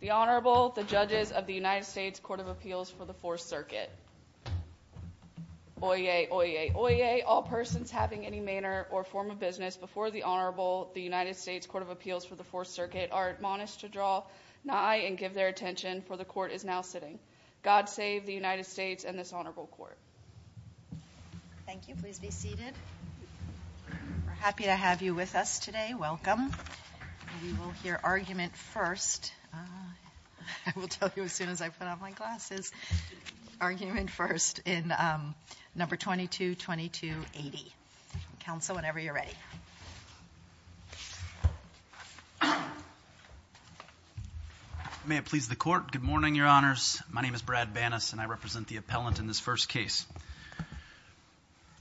The Honorable, the Judges of the United States Court of Appeals for the 4th Circuit. Oyez, oyez, oyez, all persons having any manner or form of business before the Honorable, the United States Court of Appeals for the 4th Circuit are admonished to draw nigh and give their attention, for the Court is now sitting. God save the United States and this Honorable Court. Thank you. Please be seated. We're happy to have you with us today. Welcome. We will hear argument first. I will tell you as soon as I put on my glasses. Argument first in number 222280. Counsel whenever you're ready. May it please the Court. Good morning, Your Honors. My name is Brad Banas and I represent the appellant in this first case.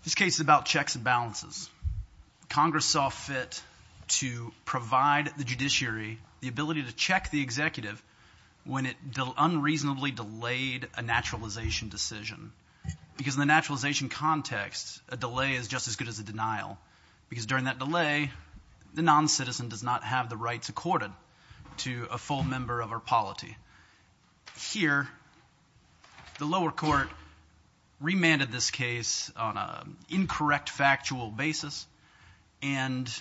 This case is about checks and balances. Congress saw fit to provide the judiciary the ability to check the executive when it unreasonably delayed a naturalization decision because in the naturalization context, a delay is just as good as a denial because during that delay, the noncitizen does not have the rights accorded to a full member of our polity. Here, the lower court remanded this case on an incorrect factual basis and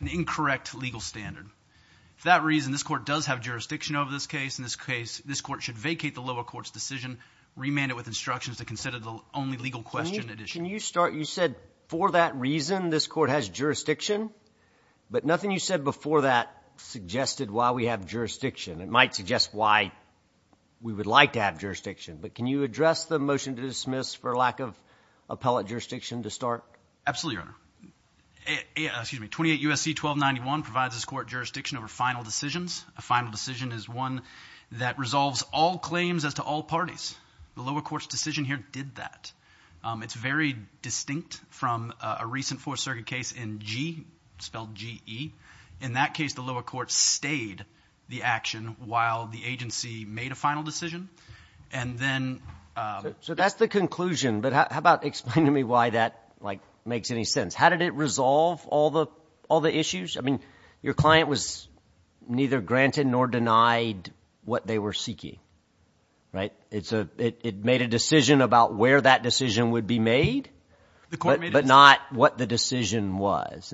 an incorrect legal standard. For that reason, this Court does have jurisdiction over this case. In this case, this Court should vacate the lower court's decision, remand it with instructions to consider the only legal question at issue. Can you start? You said for that reason this Court has jurisdiction, but nothing you said before that suggested why we have jurisdiction. It might suggest why we would like to have jurisdiction, but can you address the motion to dismiss for lack of appellate jurisdiction to start? Absolutely, Your Honor. 28 U.S.C. 1291 provides this Court jurisdiction over final decisions. A final decision is one that resolves all claims as to all parties. The lower court's decision here did that. It's very distinct from a recent Fourth Circuit case in G, spelled G-E. In that case, the lower court stayed the action while the agency made a final decision. So that's the conclusion, but how about explaining to me why that makes any sense? How did it resolve all the issues? Your client was neither granted nor denied what they were seeking. It made a decision about where that decision would be made, but not what the decision was.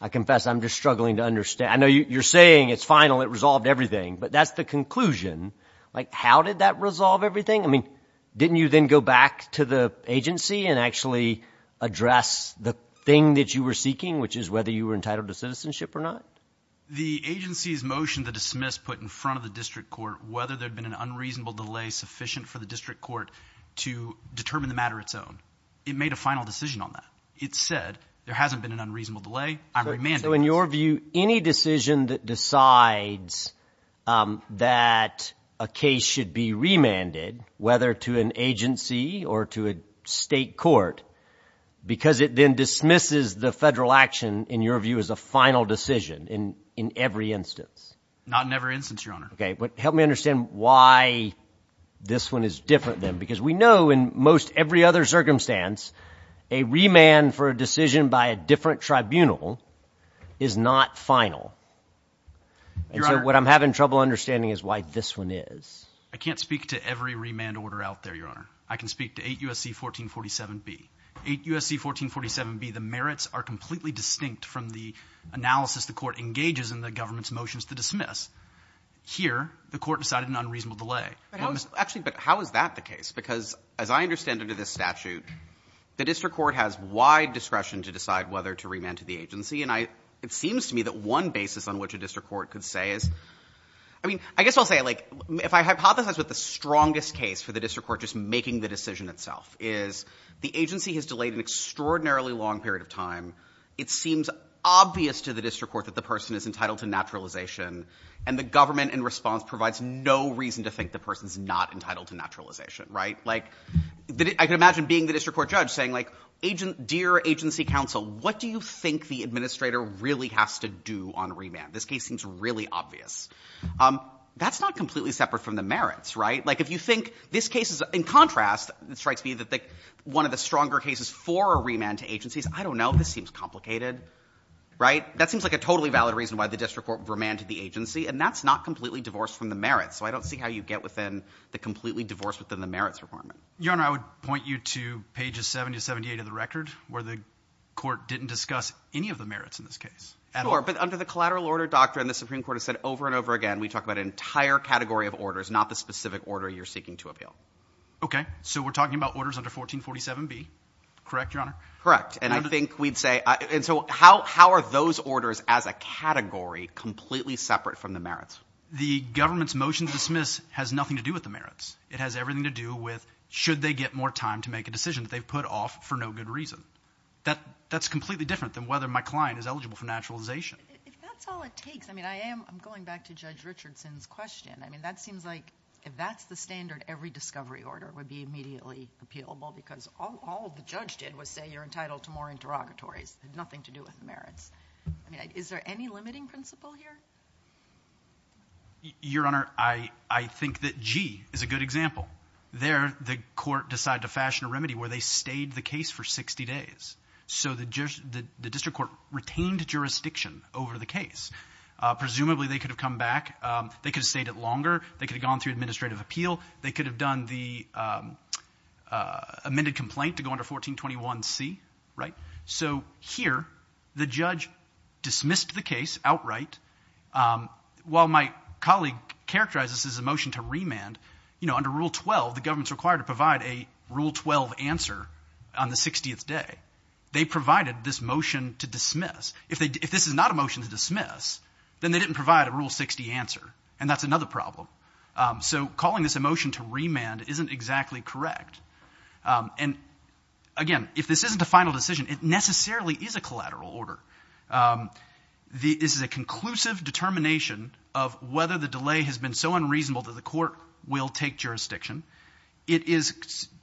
I confess I'm just struggling to understand. I know you're saying it's final, it resolved everything, but that's the conclusion. How did that resolve everything? Didn't you then go back to the agency and actually address the thing that you were seeking, which is whether you were entitled to citizenship or not? The agency's motion to dismiss put in front of the district court whether there had been an unreasonable delay sufficient for the district court to determine the matter its own. It made a final decision on that. It said, there hasn't been an unreasonable delay, I'm remanded. So in your view, any decision that decides that a case should be remanded, whether to an agency or to a state court, because it then dismisses the federal action, in your view, as a final decision in every instance. Not in every instance, Your Honor. Okay, but help me understand why this one is different then. Because we know in most every other circumstance, a remand for a decision by a different tribunal is not final. And so what I'm having trouble understanding is why this one is. I can't speak to every remand order out there, Your Honor. I can speak to 8 U.S.C. 1447B. 8 U.S.C. 1447B, the merits are completely distinct from the analysis the court engages in the government's motions to dismiss. Here, the court decided an unreasonable delay. Actually, but how is that the case? Because as I understand it in this statute, the district court has wide discretion to decide whether to remand to the agency. And it seems to me that one basis on which a district court could say is, I mean, I guess I'll say it like, if I hypothesize with the strongest case for the district court just making the decision itself, is the agency has delayed an extraordinarily long period of time. It seems obvious to the district court that the person is entitled to naturalization. And the government, in response, provides no reason to think the person's not entitled to naturalization, right? Like, I can imagine being the district court judge saying, like, dear agency counsel, what do you think the administrator really has to do on remand? This case seems really obvious. That's not completely separate from the merits, right? Like, if you think this case is, in contrast, it strikes me that one of the stronger cases for a remand to agencies, I don't know. This seems complicated, right? That seems like a totally valid reason why the district court remanded the agency, and that's not completely divorced from the merits. So I don't see how you get within the completely divorced within the merits requirement. Your Honor, I would point you to pages 70 to 78 of the record, where the court didn't discuss any of the merits in this case. At all. Sure, but under the collateral order doctrine, the Supreme Court has said over and over again, we talk about an entire category of orders, not the specific order you're seeking to appeal. Okay, so we're talking about orders under 1447B, correct, Your Honor? Correct, and I think we'd say, and so how are those orders as a category completely separate from the merits? The government's motion to dismiss has nothing to do with the merits. It has everything to do with, should they get more time to make a decision that they've put off for no good reason? That's completely different than whether my client is eligible for naturalization. If that's all it takes, I mean, I'm going back to Judge Richardson's question. I mean, that seems like, if that's the standard, every discovery order would be immediately appealable. Because all the judge did was say, you're entitled to more interrogatories. It had nothing to do with the merits. I mean, is there any limiting principle here? Your Honor, I think that G is a good example. There, the court decided to fashion a remedy where they stayed the case for 60 days. So the district court retained jurisdiction over the case. Presumably, they could have come back. They could have stayed it longer. They could have gone through administrative appeal. They could have done the amended complaint to go under 1421C, right? So here, the judge dismissed the case outright. While my colleague characterized this as a motion to remand, under Rule 12, the government's required to provide a Rule 12 answer on the 60th day. They provided this motion to dismiss. If this is not a motion to dismiss, then they didn't provide a Rule 60 answer, and that's another problem. So calling this a motion to remand isn't exactly correct. And again, if this isn't a final decision, it necessarily is a collateral order. This is a conclusive determination of whether the delay has been so unreasonable that the court will take jurisdiction. It is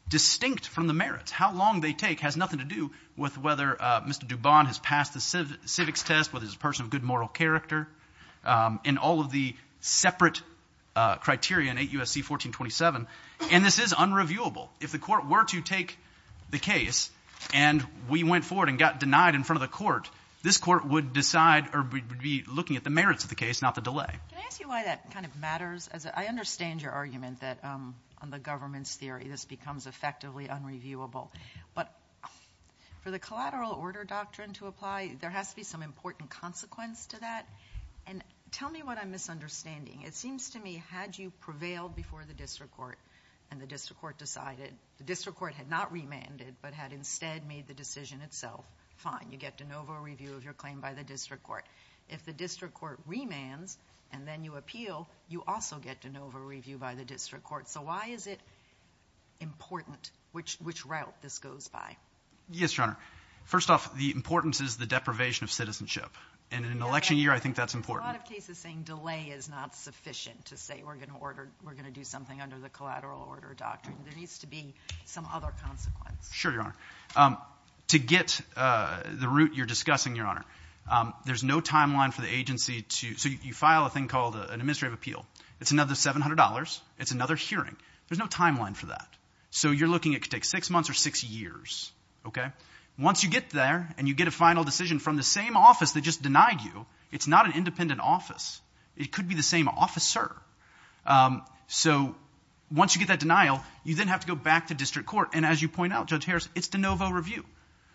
distinct from the merits. How long they take has nothing to do with whether Mr. Dubon has passed the civics test, whether he's a person of good moral character, and all of the separate criteria in 8 U.S.C. 1427. And this is unreviewable. If the court were to take the case and we went forward and got denied in front of the court, this court would decide or would be looking at the merits of the case, not the delay. Can I ask you why that kind of matters? I understand your argument that on the government's theory, this becomes effectively unreviewable. But for the collateral order doctrine to apply, there has to be some important consequence to that. And tell me what I'm misunderstanding. It seems to me, had you prevailed before the district court, and the district court decided, the district court had not remanded, but had instead made the decision itself, fine, you get de novo review of your claim by the district court. If the district court remands, and then you appeal, you also get de novo review by the district court. So why is it important, which route this goes by? Yes, Your Honor. First off, the importance is the deprivation of citizenship. And in an election year, I think that's important. A lot of cases saying delay is not sufficient to say we're going to do something under the collateral order doctrine. There needs to be some other consequence. Sure, Your Honor. To get the route you're discussing, Your Honor, there's no timeline for the agency to, so you file a thing called an administrative appeal. It's another $700. It's another hearing. There's no timeline for that. So you're looking at, it could take six months or six years, okay? Once you get there, and you get a final decision from the same office that just denied you, it's not an independent office. It could be the same officer. So once you get that denial, you then have to go back to district court. And as you point out, Judge Harris, it's de novo review.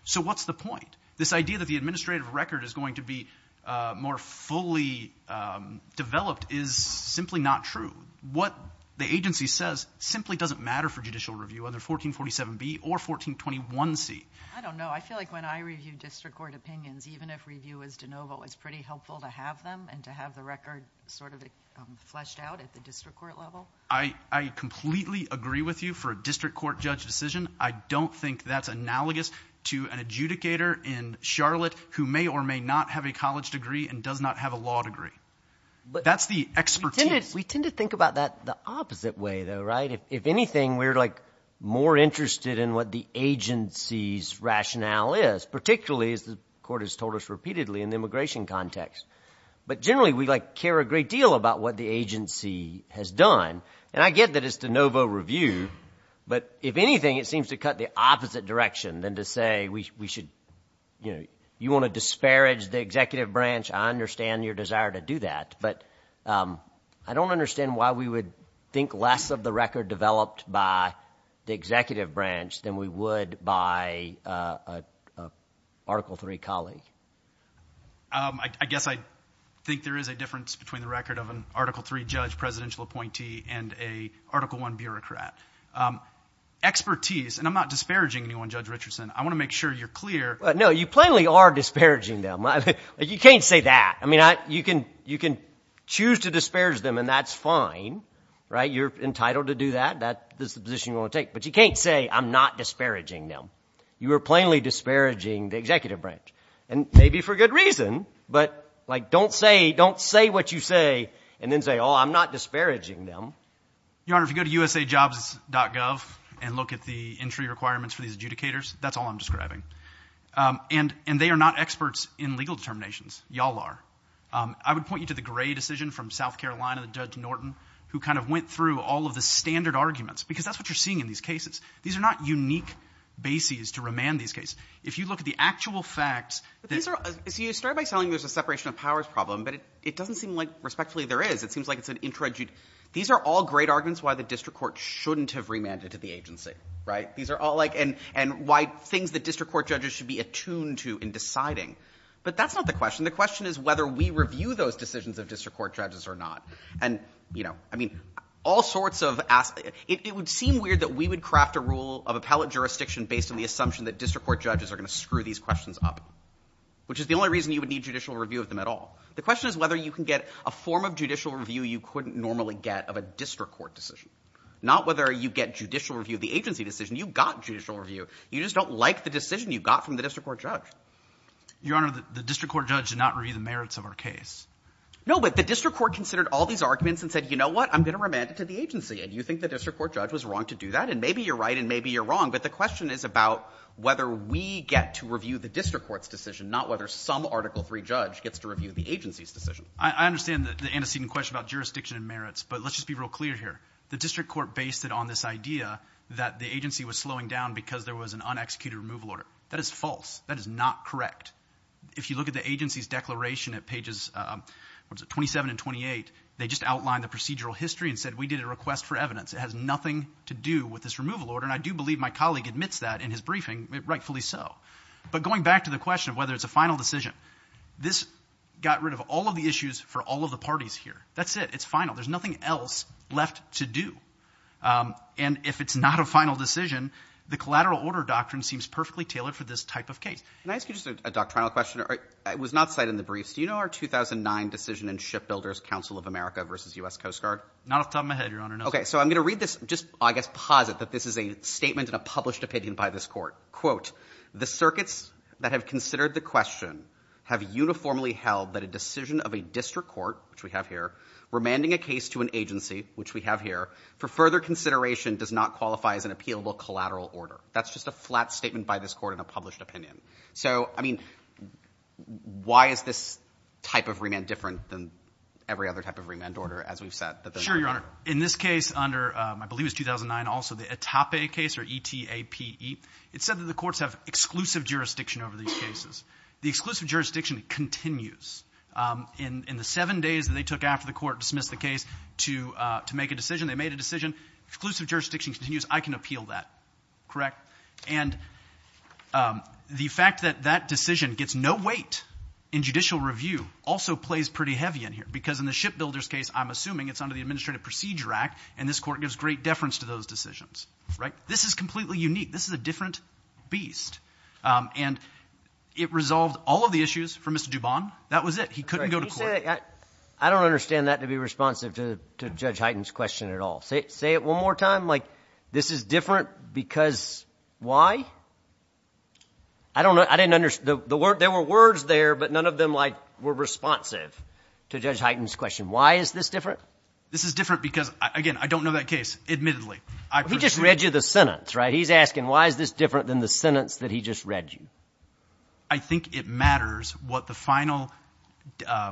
So what's the point? This idea that the administrative record is going to be more fully developed is simply not true. What the agency says simply doesn't matter for judicial review, either 1447B or 1421C. I don't know. I feel like when I review district court opinions, even if review is de novo, it's pretty helpful to have them and to have the record sort of fleshed out at the district court level. I completely agree with you for a district court judge decision. I don't think that's analogous to an adjudicator in Charlotte who may or may not have a college degree and does not have a law degree. That's the expertise. We tend to think about that the opposite way, though, right? If anything, we're more interested in what the agency's rationale is, particularly as the court has told us repeatedly in the immigration context. But generally, we care a great deal about what the agency has done. And I get that it's de novo review. But if anything, it seems to cut the opposite direction than to say, you want to disparage the executive branch. I understand your desire to do that. But I don't understand why we would think less of the record developed by the executive branch than we would by an Article III colleague. I guess I think there is a difference between the record of an Article III judge, presidential appointee, and a Article I bureaucrat. Expertise, and I'm not disparaging anyone, Judge Richardson. I want to make sure you're clear. No, you plainly are disparaging them. You can't say that. I mean, you can choose to disparage them, and that's fine, right? You're entitled to do that. That is the position you want to take. But you can't say, I'm not disparaging them. You are plainly disparaging the executive branch, and maybe for good reason. But like, don't say what you say and then say, oh, I'm not disparaging them. Your Honor, if you go to usajobs.gov and look at the entry requirements for these adjudicators, that's all I'm describing. And they are not experts in legal determinations. Y'all are. I would point you to the Gray decision from South Carolina, the Judge Norton, who kind of went through all of the standard arguments. Because that's what you're seeing in these cases. These are not unique bases to remand these cases. If you look at the actual facts that- But these are, so you started by telling me there's a separation of powers problem. But it doesn't seem like, respectfully, there is. It seems like it's an intrajudicial. These are all great arguments why the district court shouldn't have remanded to the agency, right? These are all like, and why things the district court judges should be attuned to in deciding. But that's not the question. The question is whether we review those decisions of district court judges or not. And, you know, I mean, all sorts of, it would seem weird that we would craft a rule of appellate jurisdiction based on the assumption that district court judges are going to screw these questions up. Which is the only reason you would need judicial review of them at all. The question is whether you can get a form of judicial review you couldn't normally get of a district court decision. Not whether you get judicial review of the agency decision. You got judicial review. You just don't like the decision you got from the district court judge. Your Honor, the district court judge did not review the merits of our case. No, but the district court considered all these arguments and said, you know what, I'm going to remand it to the agency. And you think the district court judge was wrong to do that? And maybe you're right and maybe you're wrong. But the question is about whether we get to review the district court's decision, not whether some Article III judge gets to review the agency's decision. I understand the antecedent question about jurisdiction and merits. But let's just be real clear here. The district court based it on this idea that the agency was slowing down because there was an unexecuted removal order. That is false. That is not correct. If you look at the agency's declaration at pages, what is it, 27 and 28, they just outlined the procedural history and said we did a request for evidence. It has nothing to do with this removal order, and I do believe my colleague admits that in his briefing, rightfully so. But going back to the question of whether it's a final decision, this got rid of all of the issues for all of the parties here. That's it, it's final. There's nothing else left to do. And if it's not a final decision, the collateral order doctrine seems perfectly tailored for this type of case. Can I ask you just a doctrinal question? It was not cited in the briefs. Do you know our 2009 decision in Shipbuilders' Council of America versus U.S. Coast Guard? Not off the top of my head, Your Honor, no. Okay, so I'm going to read this, just I guess posit that this is a statement and a published opinion by this court. Quote, the circuits that have considered the question have uniformly held that a decision of a district court, which we have here, remanding a case to an agency, which we have here, for further consideration does not qualify as an appealable collateral order. That's just a flat statement by this court and a published opinion. So, I mean, why is this type of remand different than every other type of remand order, as we've said? Sure, Your Honor. In this case, under, I believe it was 2009 also, the ETAPE case, or E-T-A-P-E, it said that the courts have exclusive jurisdiction over these cases. The exclusive jurisdiction continues. In the seven days that they took after the court dismissed the case to make a decision, they made a decision. Exclusive jurisdiction continues, I can appeal that, correct? And the fact that that decision gets no weight in judicial review also plays pretty heavy in here. Because in the shipbuilder's case, I'm assuming it's under the Administrative Procedure Act, and this court gives great deference to those decisions, right? This is completely unique. This is a different beast. And it resolved all of the issues for Mr. Dubon. That was it, he couldn't go to court. I don't understand that to be responsive to Judge Heighten's question at all. Say it one more time, this is different because why? I don't know, I didn't understand, there were words there, but none of them were responsive to Judge Heighten's question. Why is this different? This is different because, again, I don't know that case, admittedly. He just read you the sentence, right? He's asking, why is this different than the sentence that he just read you? I think it matters what the final,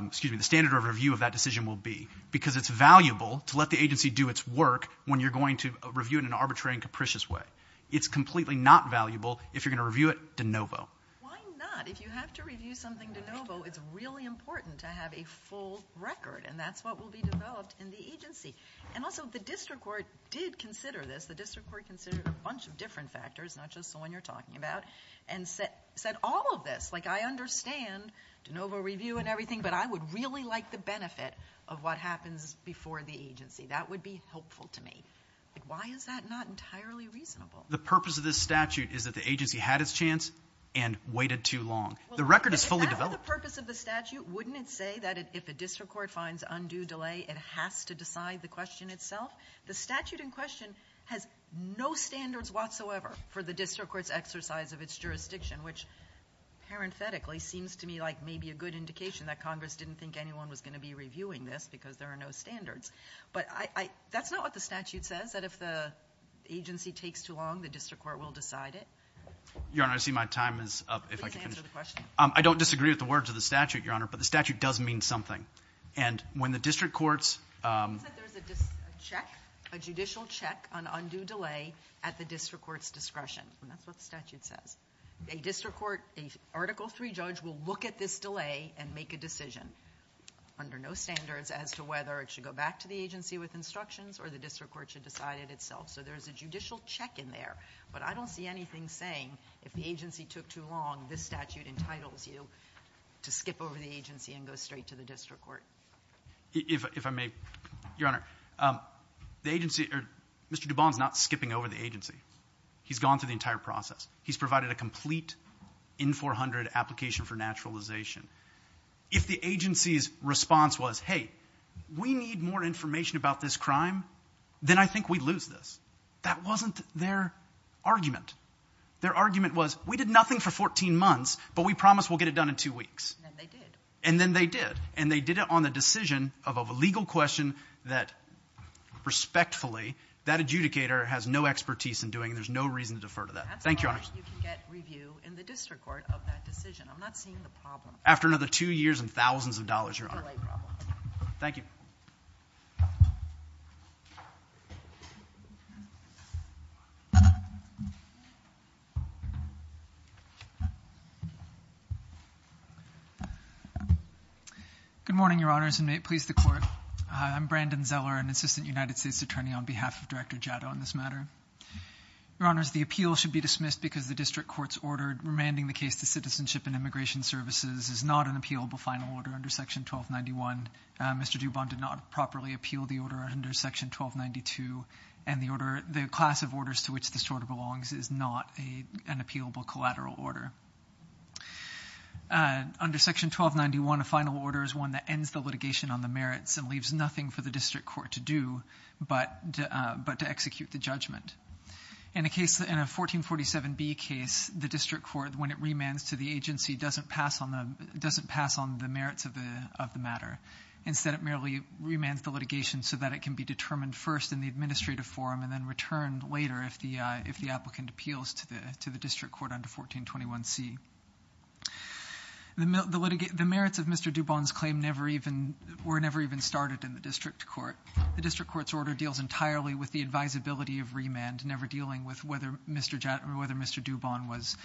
excuse me, the standard of review of that decision will be. Because it's valuable to let the agency do its work when you're going to review it in an arbitrary and capricious way. It's completely not valuable if you're going to review it de novo. Why not? If you have to review something de novo, it's really important to have a full record, and that's what will be developed in the agency. And also, the district court did consider this. The district court considered a bunch of different factors, not just the one you're talking about. And said all of this, like I understand de novo review and everything, but I would really like the benefit of what happens before the agency. That would be helpful to me. Why is that not entirely reasonable? The purpose of this statute is that the agency had its chance and waited too long. The record is fully developed. If that's the purpose of the statute, wouldn't it say that if a district court finds undue delay, it has to decide the question itself? The statute in question has no standards whatsoever for the district court's exercise of its jurisdiction, which parenthetically seems to me like maybe a good indication that Congress didn't think anyone was going to be reviewing this because there are no standards. But that's not what the statute says, that if the agency takes too long, the district court will decide it. Your Honor, I see my time is up. Please answer the question. I don't disagree with the words of the statute, Your Honor, but the statute does mean something. And when the district courts- A judicial check on undue delay at the district court's discretion, and that's what the statute says. A district court, a Article III judge will look at this delay and make a decision under no standards as to whether it should go back to the agency with instructions or the district court should decide it itself. So there's a judicial check in there, but I don't see anything saying if the agency took too long, this statute entitles you to skip over the agency and go straight to the district court. If I may, Your Honor, Mr. Dubon's not skipping over the agency. He's gone through the entire process. He's provided a complete N-400 application for naturalization. If the agency's response was, hey, we need more information about this crime, then I think we'd lose this. That wasn't their argument. Their argument was, we did nothing for 14 months, but we promise we'll get it done in two weeks. And they did. And they did it on the decision of a legal question that, respectfully, that adjudicator has no expertise in doing, and there's no reason to defer to that. Thank you, Your Honor. That's why you can get review in the district court of that decision. I'm not seeing the problem. After another two years and thousands of dollars, Your Honor. Delay problem. Thank you. Good morning, Your Honors, and may it please the court. I'm Brandon Zeller, an assistant United States attorney on behalf of Director Jato on this matter. Your Honors, the appeal should be dismissed because the district court's order remanding the case to citizenship and immigration services is not an appealable final order under section 1291. Mr. Dubon did not properly appeal the order under section 1292. And the order, the class of orders to which this order belongs is not an appealable collateral order. Under section 1291, a final order is one that ends the litigation on the merits and leaves nothing for the district court to do but to execute the judgment. In a case, in a 1447B case, the district court, when it remands to the agency, doesn't pass on the merits of the matter. Instead, it merely remands the litigation so that it can be determined first in the administrative forum and then returned later if the applicant appeals to the district court under 1421C. The merits of Mr. Dubon's claim were never even started in the district court. The district court's order deals entirely with the advisability of remand, never dealing with whether Mr. Dubon was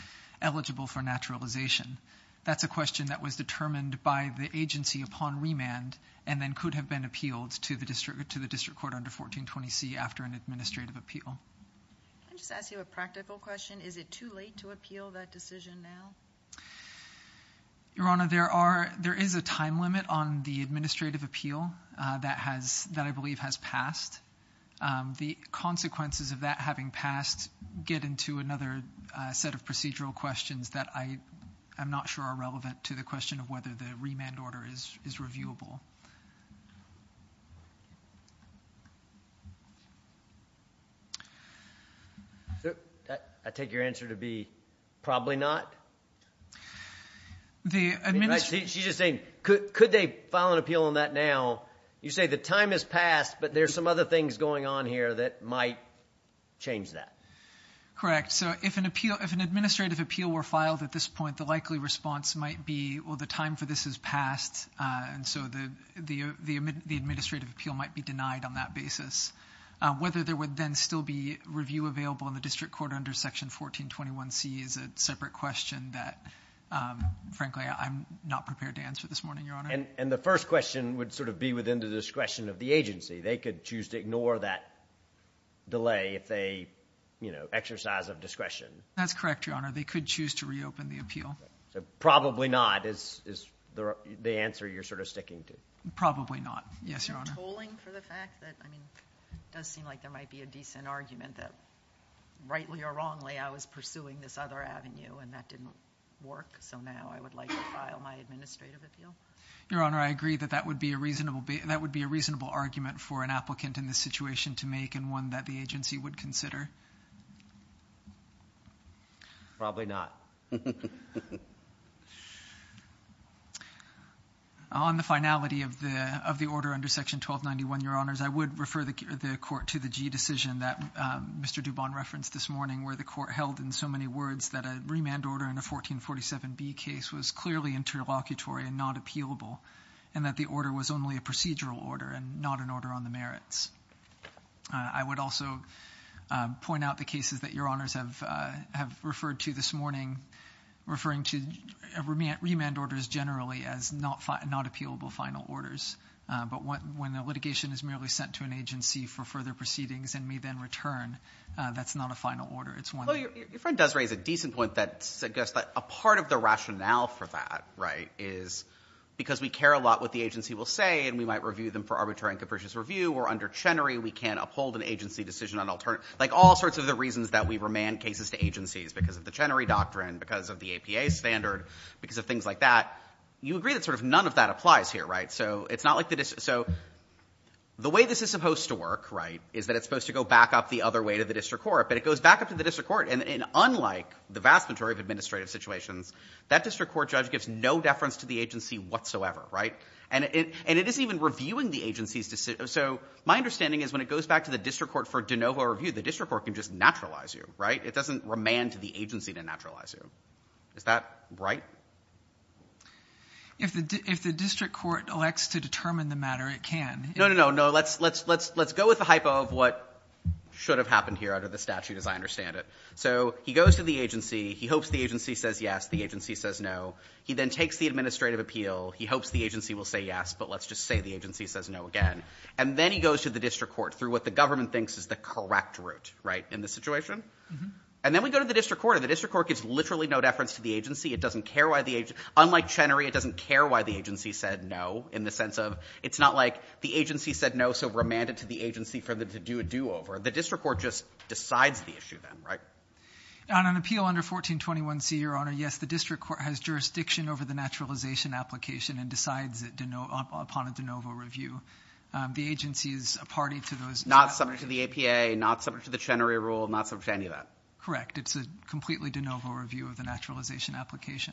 eligible for naturalization. That's a question that was determined by the agency upon remand and then could have been appealed to the district court under 1420C after an administrative appeal. Can I just ask you a practical question? Is it too late to appeal that decision now? Your Honor, there is a time limit on the administrative appeal that I believe has passed. The consequences of that having passed get into another set of procedural questions that I don't know whether the remand order is reviewable. I take your answer to be probably not? She's just saying, could they file an appeal on that now? You say the time has passed, but there's some other things going on here that might change that. Correct. If an administrative appeal were filed at this point, the likely response might be, well, the time for this has passed, and so the administrative appeal might be denied on that basis. Whether there would then still be review available in the district court under section 1421C is a separate question that, frankly, I'm not prepared to answer this morning, Your Honor. The first question would be within the discretion of the agency. They could choose to ignore that delay if they exercise of discretion. That's correct, Your Honor. They could choose to reopen the appeal. Probably not is the answer you're sort of sticking to. Probably not. Yes, Your Honor. I'm tolling for the fact that, I mean, it does seem like there might be a decent argument that, rightly or wrongly, I was pursuing this other avenue and that didn't work. So now I would like to file my administrative appeal. Your Honor, I agree that that would be a reasonable argument for an applicant in this situation to make and one that the agency would consider. Probably not. On the finality of the order under section 1291, Your Honors, I would refer the court to the G decision that Mr. Dubon referenced this morning, where the court held in so many words that a remand order in a 1447B case was clearly interlocutory and not appealable, and that the order was only a procedural order and not an order on the merits. I would also point out the cases that Your Honors have referred to this morning, referring to remand orders generally as not appealable final orders. But when a litigation is merely sent to an agency for further proceedings and may then return, that's not a final order. It's one- Although your friend does raise a decent point that suggests that a part of the rationale for that is because we care a lot what the agency will say and we might review them for arbitrary and capricious review. Or under Chenery, we can't uphold an agency decision on alternative, like all sorts of the reasons that we remand cases to agencies because of the Chenery doctrine, because of the APA standard, because of things like that. You agree that sort of none of that applies here, right? So it's not like the, so the way this is supposed to work, right, is that it's supposed to go back up the other way to the district court. But it goes back up to the district court, and unlike the vast majority of administrative situations, that district court judge gives no deference to the agency whatsoever, right? And it isn't even reviewing the agency's decision. So my understanding is when it goes back to the district court for de novo review, the district court can just naturalize you, right? It doesn't remand to the agency to naturalize you. Is that right? If the district court elects to determine the matter, it can. No, no, no, no, let's go with the hypo of what should have happened here under the statute as I understand it. So he goes to the agency, he hopes the agency says yes, the agency says no. He then takes the administrative appeal, he hopes the agency will say yes, but let's just say the agency says no again. And then he goes to the district court through what the government thinks is the correct route, right, in this situation. And then we go to the district court, and the district court gives literally no deference to the agency. It doesn't care why the, unlike Chenery, it doesn't care why the agency said no, in the sense of, it's not like the agency said no, so remanded to the agency for them to do a do over. The district court just decides the issue then, right? On an appeal under 1421C, your honor, yes, the district court has jurisdiction over the naturalization application and decides it upon a de novo review. The agency is a party to those- Not subject to the APA, not subject to the Chenery rule, not subject to any of that. Correct, it's a completely de novo review of the naturalization application.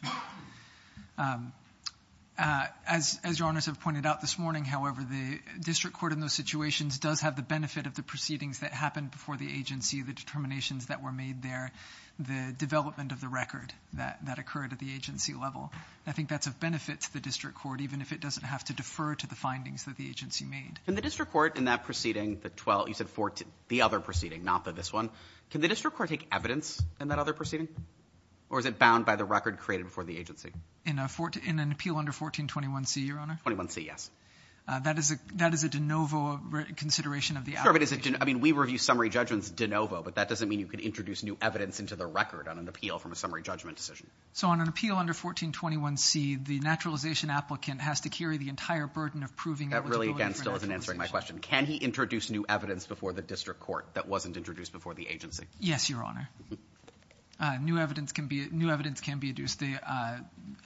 As your honors have pointed out this morning, however, the district court in those situations does have the benefit of the proceedings that happened before the agency, the determinations that were made there, the development of the record that occurred at the agency level. I think that's of benefit to the district court, even if it doesn't have to defer to the findings that the agency made. In the district court, in that proceeding, the 12, you said 14, the other proceeding, not the this one, can the district court take evidence in that other proceeding? Or is it bound by the record created before the agency? In an appeal under 1421C, your honor? 1421C, yes. That is a de novo consideration of the application. Sure, but is it, I mean, we review summary judgments de novo, but that doesn't mean you can introduce new evidence into the record on an appeal from a summary judgment decision. So on an appeal under 1421C, the naturalization applicant has to carry the entire burden of proving- That really, again, still isn't answering my question. Can he introduce new evidence before the district court that wasn't introduced before the agency? Yes, your honor. New evidence can be introduced. The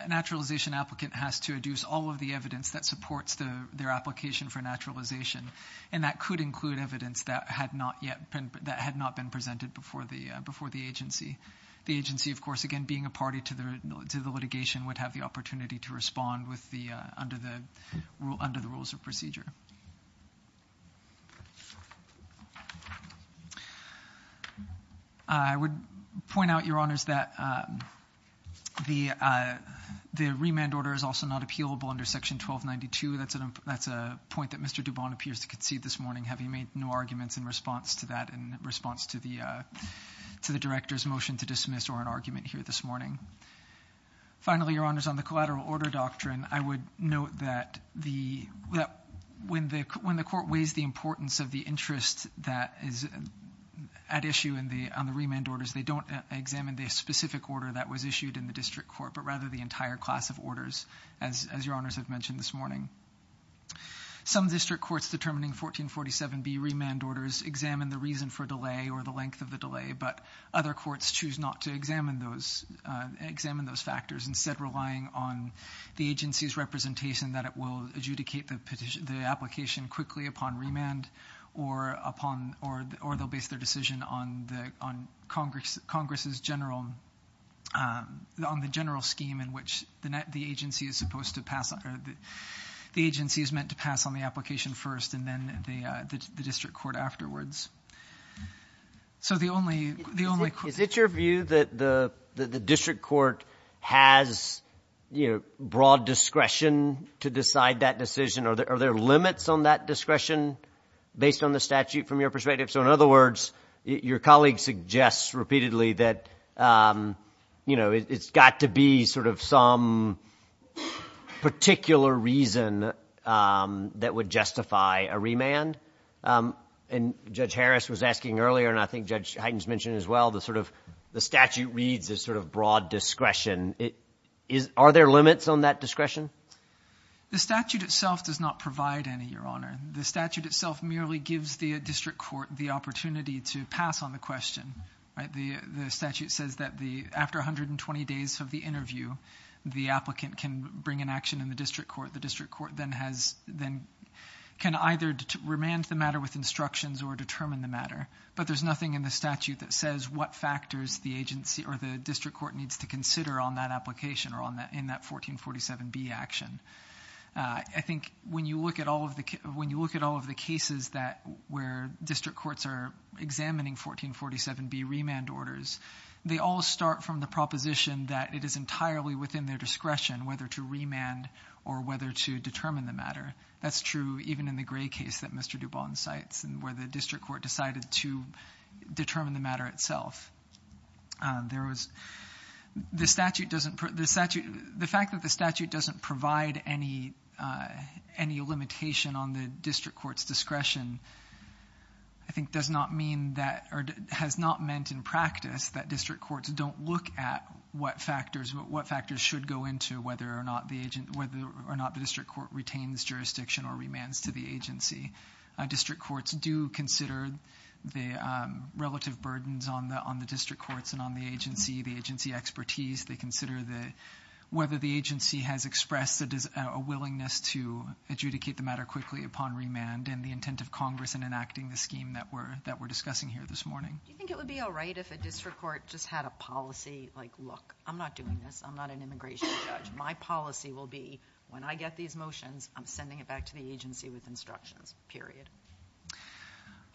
naturalization applicant has to introduce all of the evidence that supports their application for naturalization, and that could include evidence that had not been presented before the agency. The agency, of course, again, being a party to the litigation, would have the opportunity to respond under the rules of procedure. I would point out, your honors, that the remand order is also not appealable under section 1292. That's a point that Mr. Dubon appears to concede this morning, having made no arguments in response to that, in response to the director's motion to dismiss or an argument here this morning. Finally, your honors, on the collateral order doctrine, I would note that when the court weighs the importance of the interest that is at issue on the remand orders, they don't examine the specific order that was issued in the district court, but rather the entire class of orders, as your honors have mentioned this morning. Some district courts determining 1447B remand orders examine the reason for delay or the length of the delay, but other courts choose not to examine those factors, instead relying on the agency's representation that it will adjudicate the application quickly upon remand, or they'll base their decision on the general scheme in which the agency is meant to pass on the application first, and then the district court afterwards. So the only question— Is it your view that the district court has broad discretion to decide that decision? Are there limits on that discretion based on the statute from your perspective? So in other words, your colleague suggests repeatedly that it's got to be sort of some particular reason that would justify a remand. And Judge Harris was asking earlier, and I think Judge Hyten has mentioned as well, the sort of—the statute reads as sort of broad discretion. Are there limits on that discretion? The statute itself does not provide any, your honor. The statute itself merely gives the district court the opportunity to pass on the question. The statute says that after 120 days of the interview, the applicant can bring an action in the district court. The district court then has—can either remand the matter with instructions or determine the matter. But there's nothing in the statute that says what factors the agency or the district court needs to consider on that application or in that 1447B action. I think when you look at all of the cases where district courts are examining 1447B remand orders, they all start from the proposition that it is entirely within their discretion whether to remand or whether to determine the matter. That's true even in the Gray case that Mr. Dubon cites where the district court decided to determine the matter itself. There was—the statute doesn't—the fact that the statute doesn't provide any limitation on the district court's discretion, I think does not mean that—or has not meant in practice that district courts don't look at what factors— what factors should go into whether or not the agent—whether or not the district court retains jurisdiction or remands to the agency. District courts do consider the relative burdens on the district courts and on the agency, the agency expertise. They consider whether the agency has expressed a willingness to adjudicate the matter quickly upon remand and the intent of Congress in enacting the scheme that we're discussing here this morning. Do you think it would be all right if a district court just had a policy like, look, I'm not doing this. I'm not an immigration judge. My policy will be when I get these motions, I'm sending it back to the agency with instructions, period.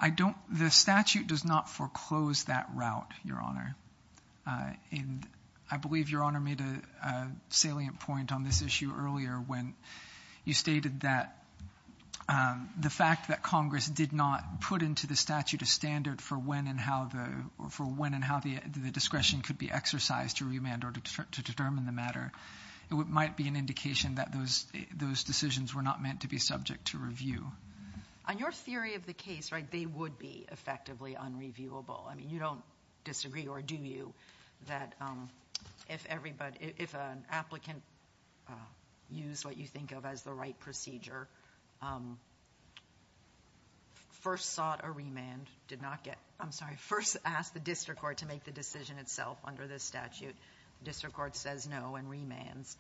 I don't—the statute does not foreclose that route, Your Honor. And I believe Your Honor made a salient point on this issue earlier when you stated that the fact that Congress did not put into the statute a standard for when and how the—for when and how the discretion could be exercised to remand or to determine the matter, it might be an indication that those decisions were not meant to be subject to review. On your theory of the case, right, they would be effectively unreviewable. I mean, you don't disagree, or do you, that if everybody—if an applicant used what you think of as the right procedure, first sought a remand, did not get—I'm sorry, first asked the district court to make the decision itself under this statute, district court says no and remands,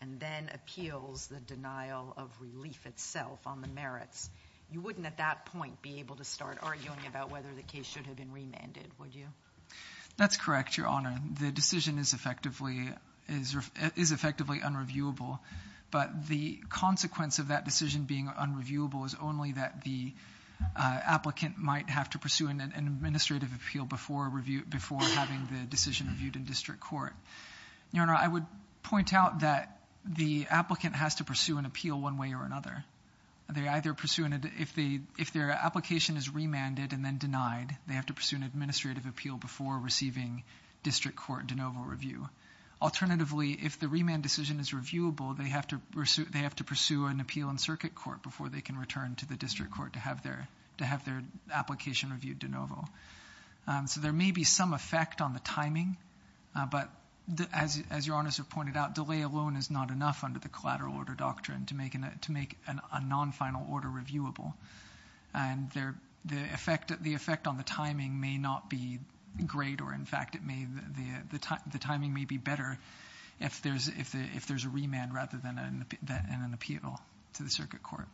and then appeals the denial of relief itself on the merits, you wouldn't at that point be able to start arguing about whether the case should have been remanded, would you? That's correct, Your Honor. The decision is effectively unreviewable. But the consequence of that decision being unreviewable is only that the applicant might have to pursue an administrative appeal before having the decision reviewed in district court. Your Honor, I would point out that the applicant has to pursue an appeal one way or another. They either pursue—if their application is remanded and then denied, they have to pursue an administrative appeal before receiving district court de novo review. Alternatively, if the remand decision is reviewable, they have to pursue an appeal in circuit court before they can return to the district court to have their application reviewed de novo. So there may be some effect on the timing, but as Your Honor has pointed out, delay alone is not enough under the collateral order doctrine to make a non-final order reviewable. And the effect on the timing may not be great or, in fact, the timing may be better if there's a remand rather than an appeal to the circuit court.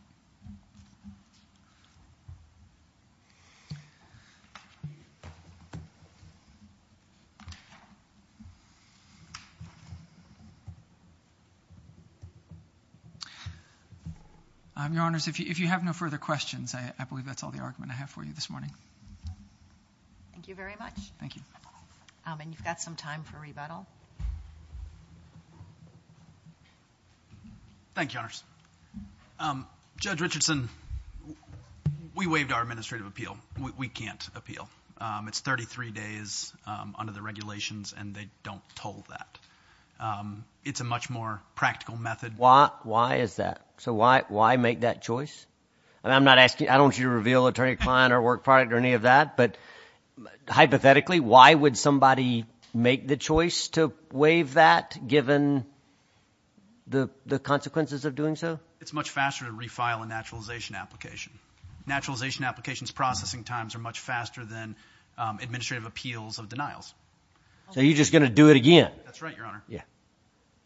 Your Honors, if you have no further questions, I believe that's all the argument I have for you this morning. Thank you very much. Thank you. And you've got some time for rebuttal. Thank you, Your Honors. Judge Richardson, we waived our administrative appeal. We can't appeal. It's 33 days under the regulations, and they don't toll that. It's a much more practical method. Why is that? So why make that choice? I don't want you to reveal attorney client or work product or any of that, but hypothetically, why would somebody make the choice to waive that given the consequences of doing so? It's much faster to refile a naturalization application. Naturalization applications processing times are much faster than administrative appeals of denials. So you're just going to do it again. That's right, Your Honor. Yeah.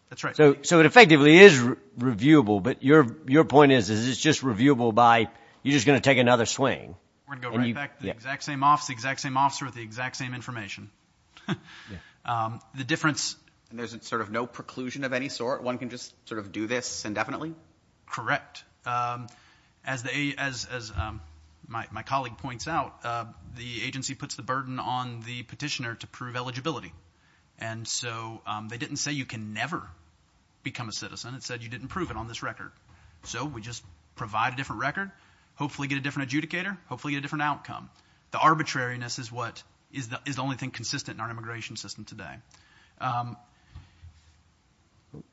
That's right. So it effectively is reviewable, but your point is it's just reviewable by you're just going to take another swing. We're going to go right back to the exact same officer with the exact same information. The difference – And there's sort of no preclusion of any sort? One can just sort of do this indefinitely? Correct. As my colleague points out, the agency puts the burden on the petitioner to prove eligibility, and so they didn't say you can never become a citizen. It said you didn't prove it on this record. So we just provide a different record, hopefully get a different adjudicator, hopefully get a different outcome. The arbitrariness is the only thing consistent in our immigration system today.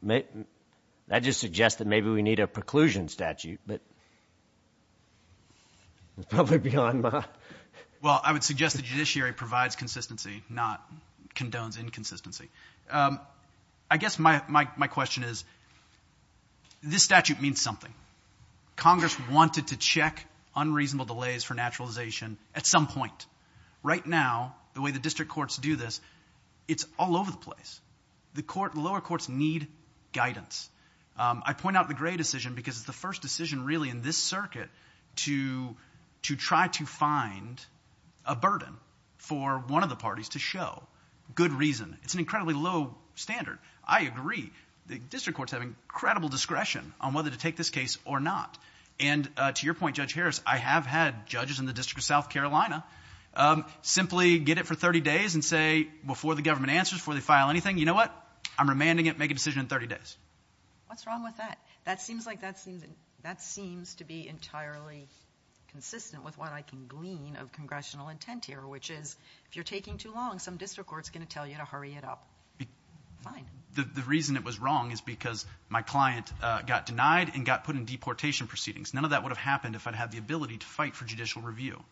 That just suggests that maybe we need a preclusion statute, but it's probably beyond my – Well, I would suggest the judiciary provides consistency, not condones inconsistency. I guess my question is this statute means something. Congress wanted to check unreasonable delays for naturalization at some point. Right now, the way the district courts do this, it's all over the place. The lower courts need guidance. I point out the Gray decision because it's the first decision really in this circuit to try to find a burden for one of the parties to show. Good reason. It's an incredibly low standard. I agree. The district courts have incredible discretion on whether to take this case or not. To your point, Judge Harris, I have had judges in the District of South Carolina simply get it for 30 days and say before the government answers, before they file anything, you know what, I'm remanding it, make a decision in 30 days. What's wrong with that? That seems to be entirely consistent with what I can glean of congressional intent here, which is if you're taking too long, some district court is going to tell you to hurry it up. Fine. The reason it was wrong is because my client got denied and got put in deportation proceedings. None of that would have happened if I'd had the ability to fight for judicial review.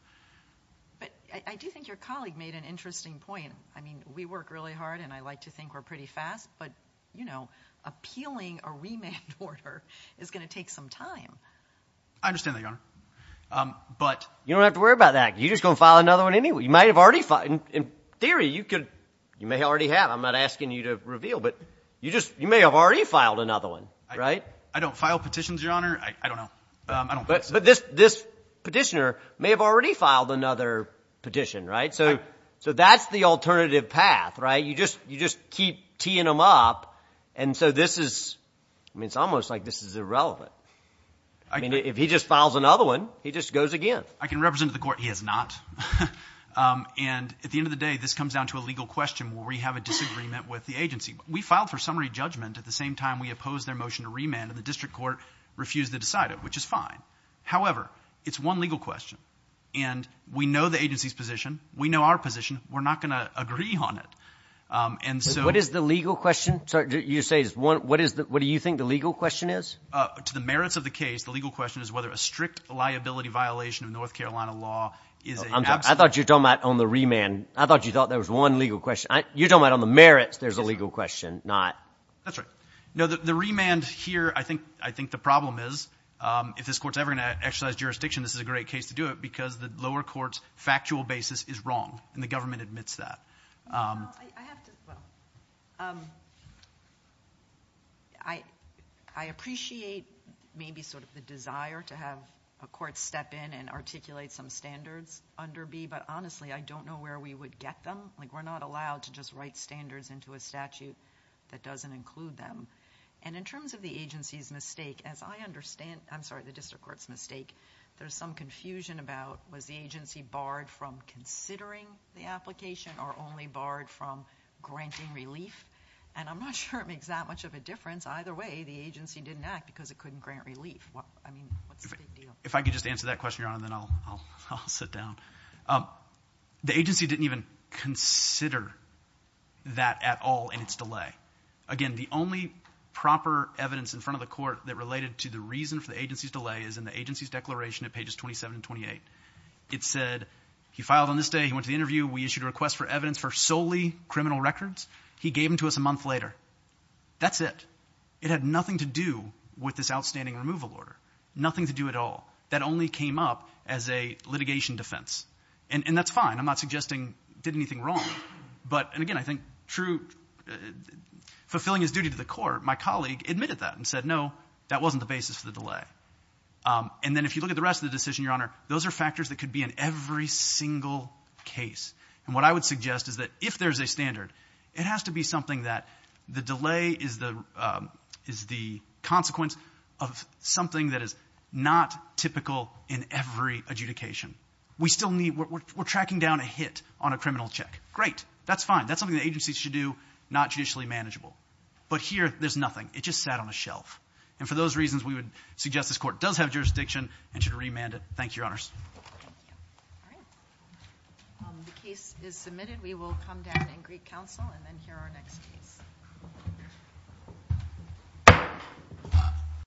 But I do think your colleague made an interesting point. I mean, we work really hard, and I like to think we're pretty fast, but appealing a remand order is going to take some time. I understand that, Your Honor. You don't have to worry about that. You're just going to file another one anyway. You might have already filed. In theory, you may already have. I'm not asking you to reveal, but you may have already filed another one, right? I don't file petitions, Your Honor. I don't know. But this petitioner may have already filed another petition, right? So that's the alternative path, right? You just keep teeing them up, and so this is almost like this is irrelevant. I mean, if he just files another one, he just goes again. I can represent the court. He has not. And at the end of the day, this comes down to a legal question where we have a disagreement with the agency. We filed for summary judgment. At the same time, we opposed their motion to remand, and the district court refused to decide it, which is fine. However, it's one legal question, and we know the agency's position. We know our position. We're not going to agree on it. What is the legal question? What do you think the legal question is? To the merits of the case, the legal question is whether a strict liability violation of North Carolina law is an absolute. I'm sorry. I thought you were talking about on the remand. I thought you thought there was one legal question. You're talking about on the merits there's a legal question, not. That's right. No, the remand here, I think the problem is if this court's ever going to exercise jurisdiction, this is a great case to do it because the lower court's factual basis is wrong, and the government admits that. I have to, well, I appreciate maybe sort of the desire to have a court step in and articulate some standards under B, but honestly, I don't know where we would get them. Like, we're not allowed to just write standards into a statute that doesn't include them, and in terms of the agency's mistake, as I understand, I'm sorry, the district court's mistake, there's some confusion about was the agency barred from considering the application or only barred from granting relief, and I'm not sure it makes that much of a difference. Either way, the agency didn't act because it couldn't grant relief. I mean, what's the big deal? If I could just answer that question, Your Honor, then I'll sit down. The agency didn't even consider that at all in its delay. Again, the only proper evidence in front of the court that related to the reason for the agency's delay is in the agency's declaration at pages 27 and 28. It said he filed on this day. He went to the interview. We issued a request for evidence for solely criminal records. He gave them to us a month later. That's it. It had nothing to do with this outstanding removal order, nothing to do at all. That only came up as a litigation defense, and that's fine. I'm not suggesting he did anything wrong, but, and again, I think true fulfilling his duty to the court, my colleague admitted that and said, no, that wasn't the basis for the delay. And then if you look at the rest of the decision, Your Honor, those are factors that could be in every single case, and what I would suggest is that if there's a standard, it has to be something that the delay is the consequence of something that is not typical in every adjudication. We still need, we're tracking down a hit on a criminal check. Great. That's fine. That's something the agency should do, not judicially manageable. But here, there's nothing. It just sat on a shelf. And for those reasons, we would suggest this court does have jurisdiction and should remand it. Thank you, Your Honors. Thank you. All right. The case is submitted. We will come down and greet counsel and then hear our next case.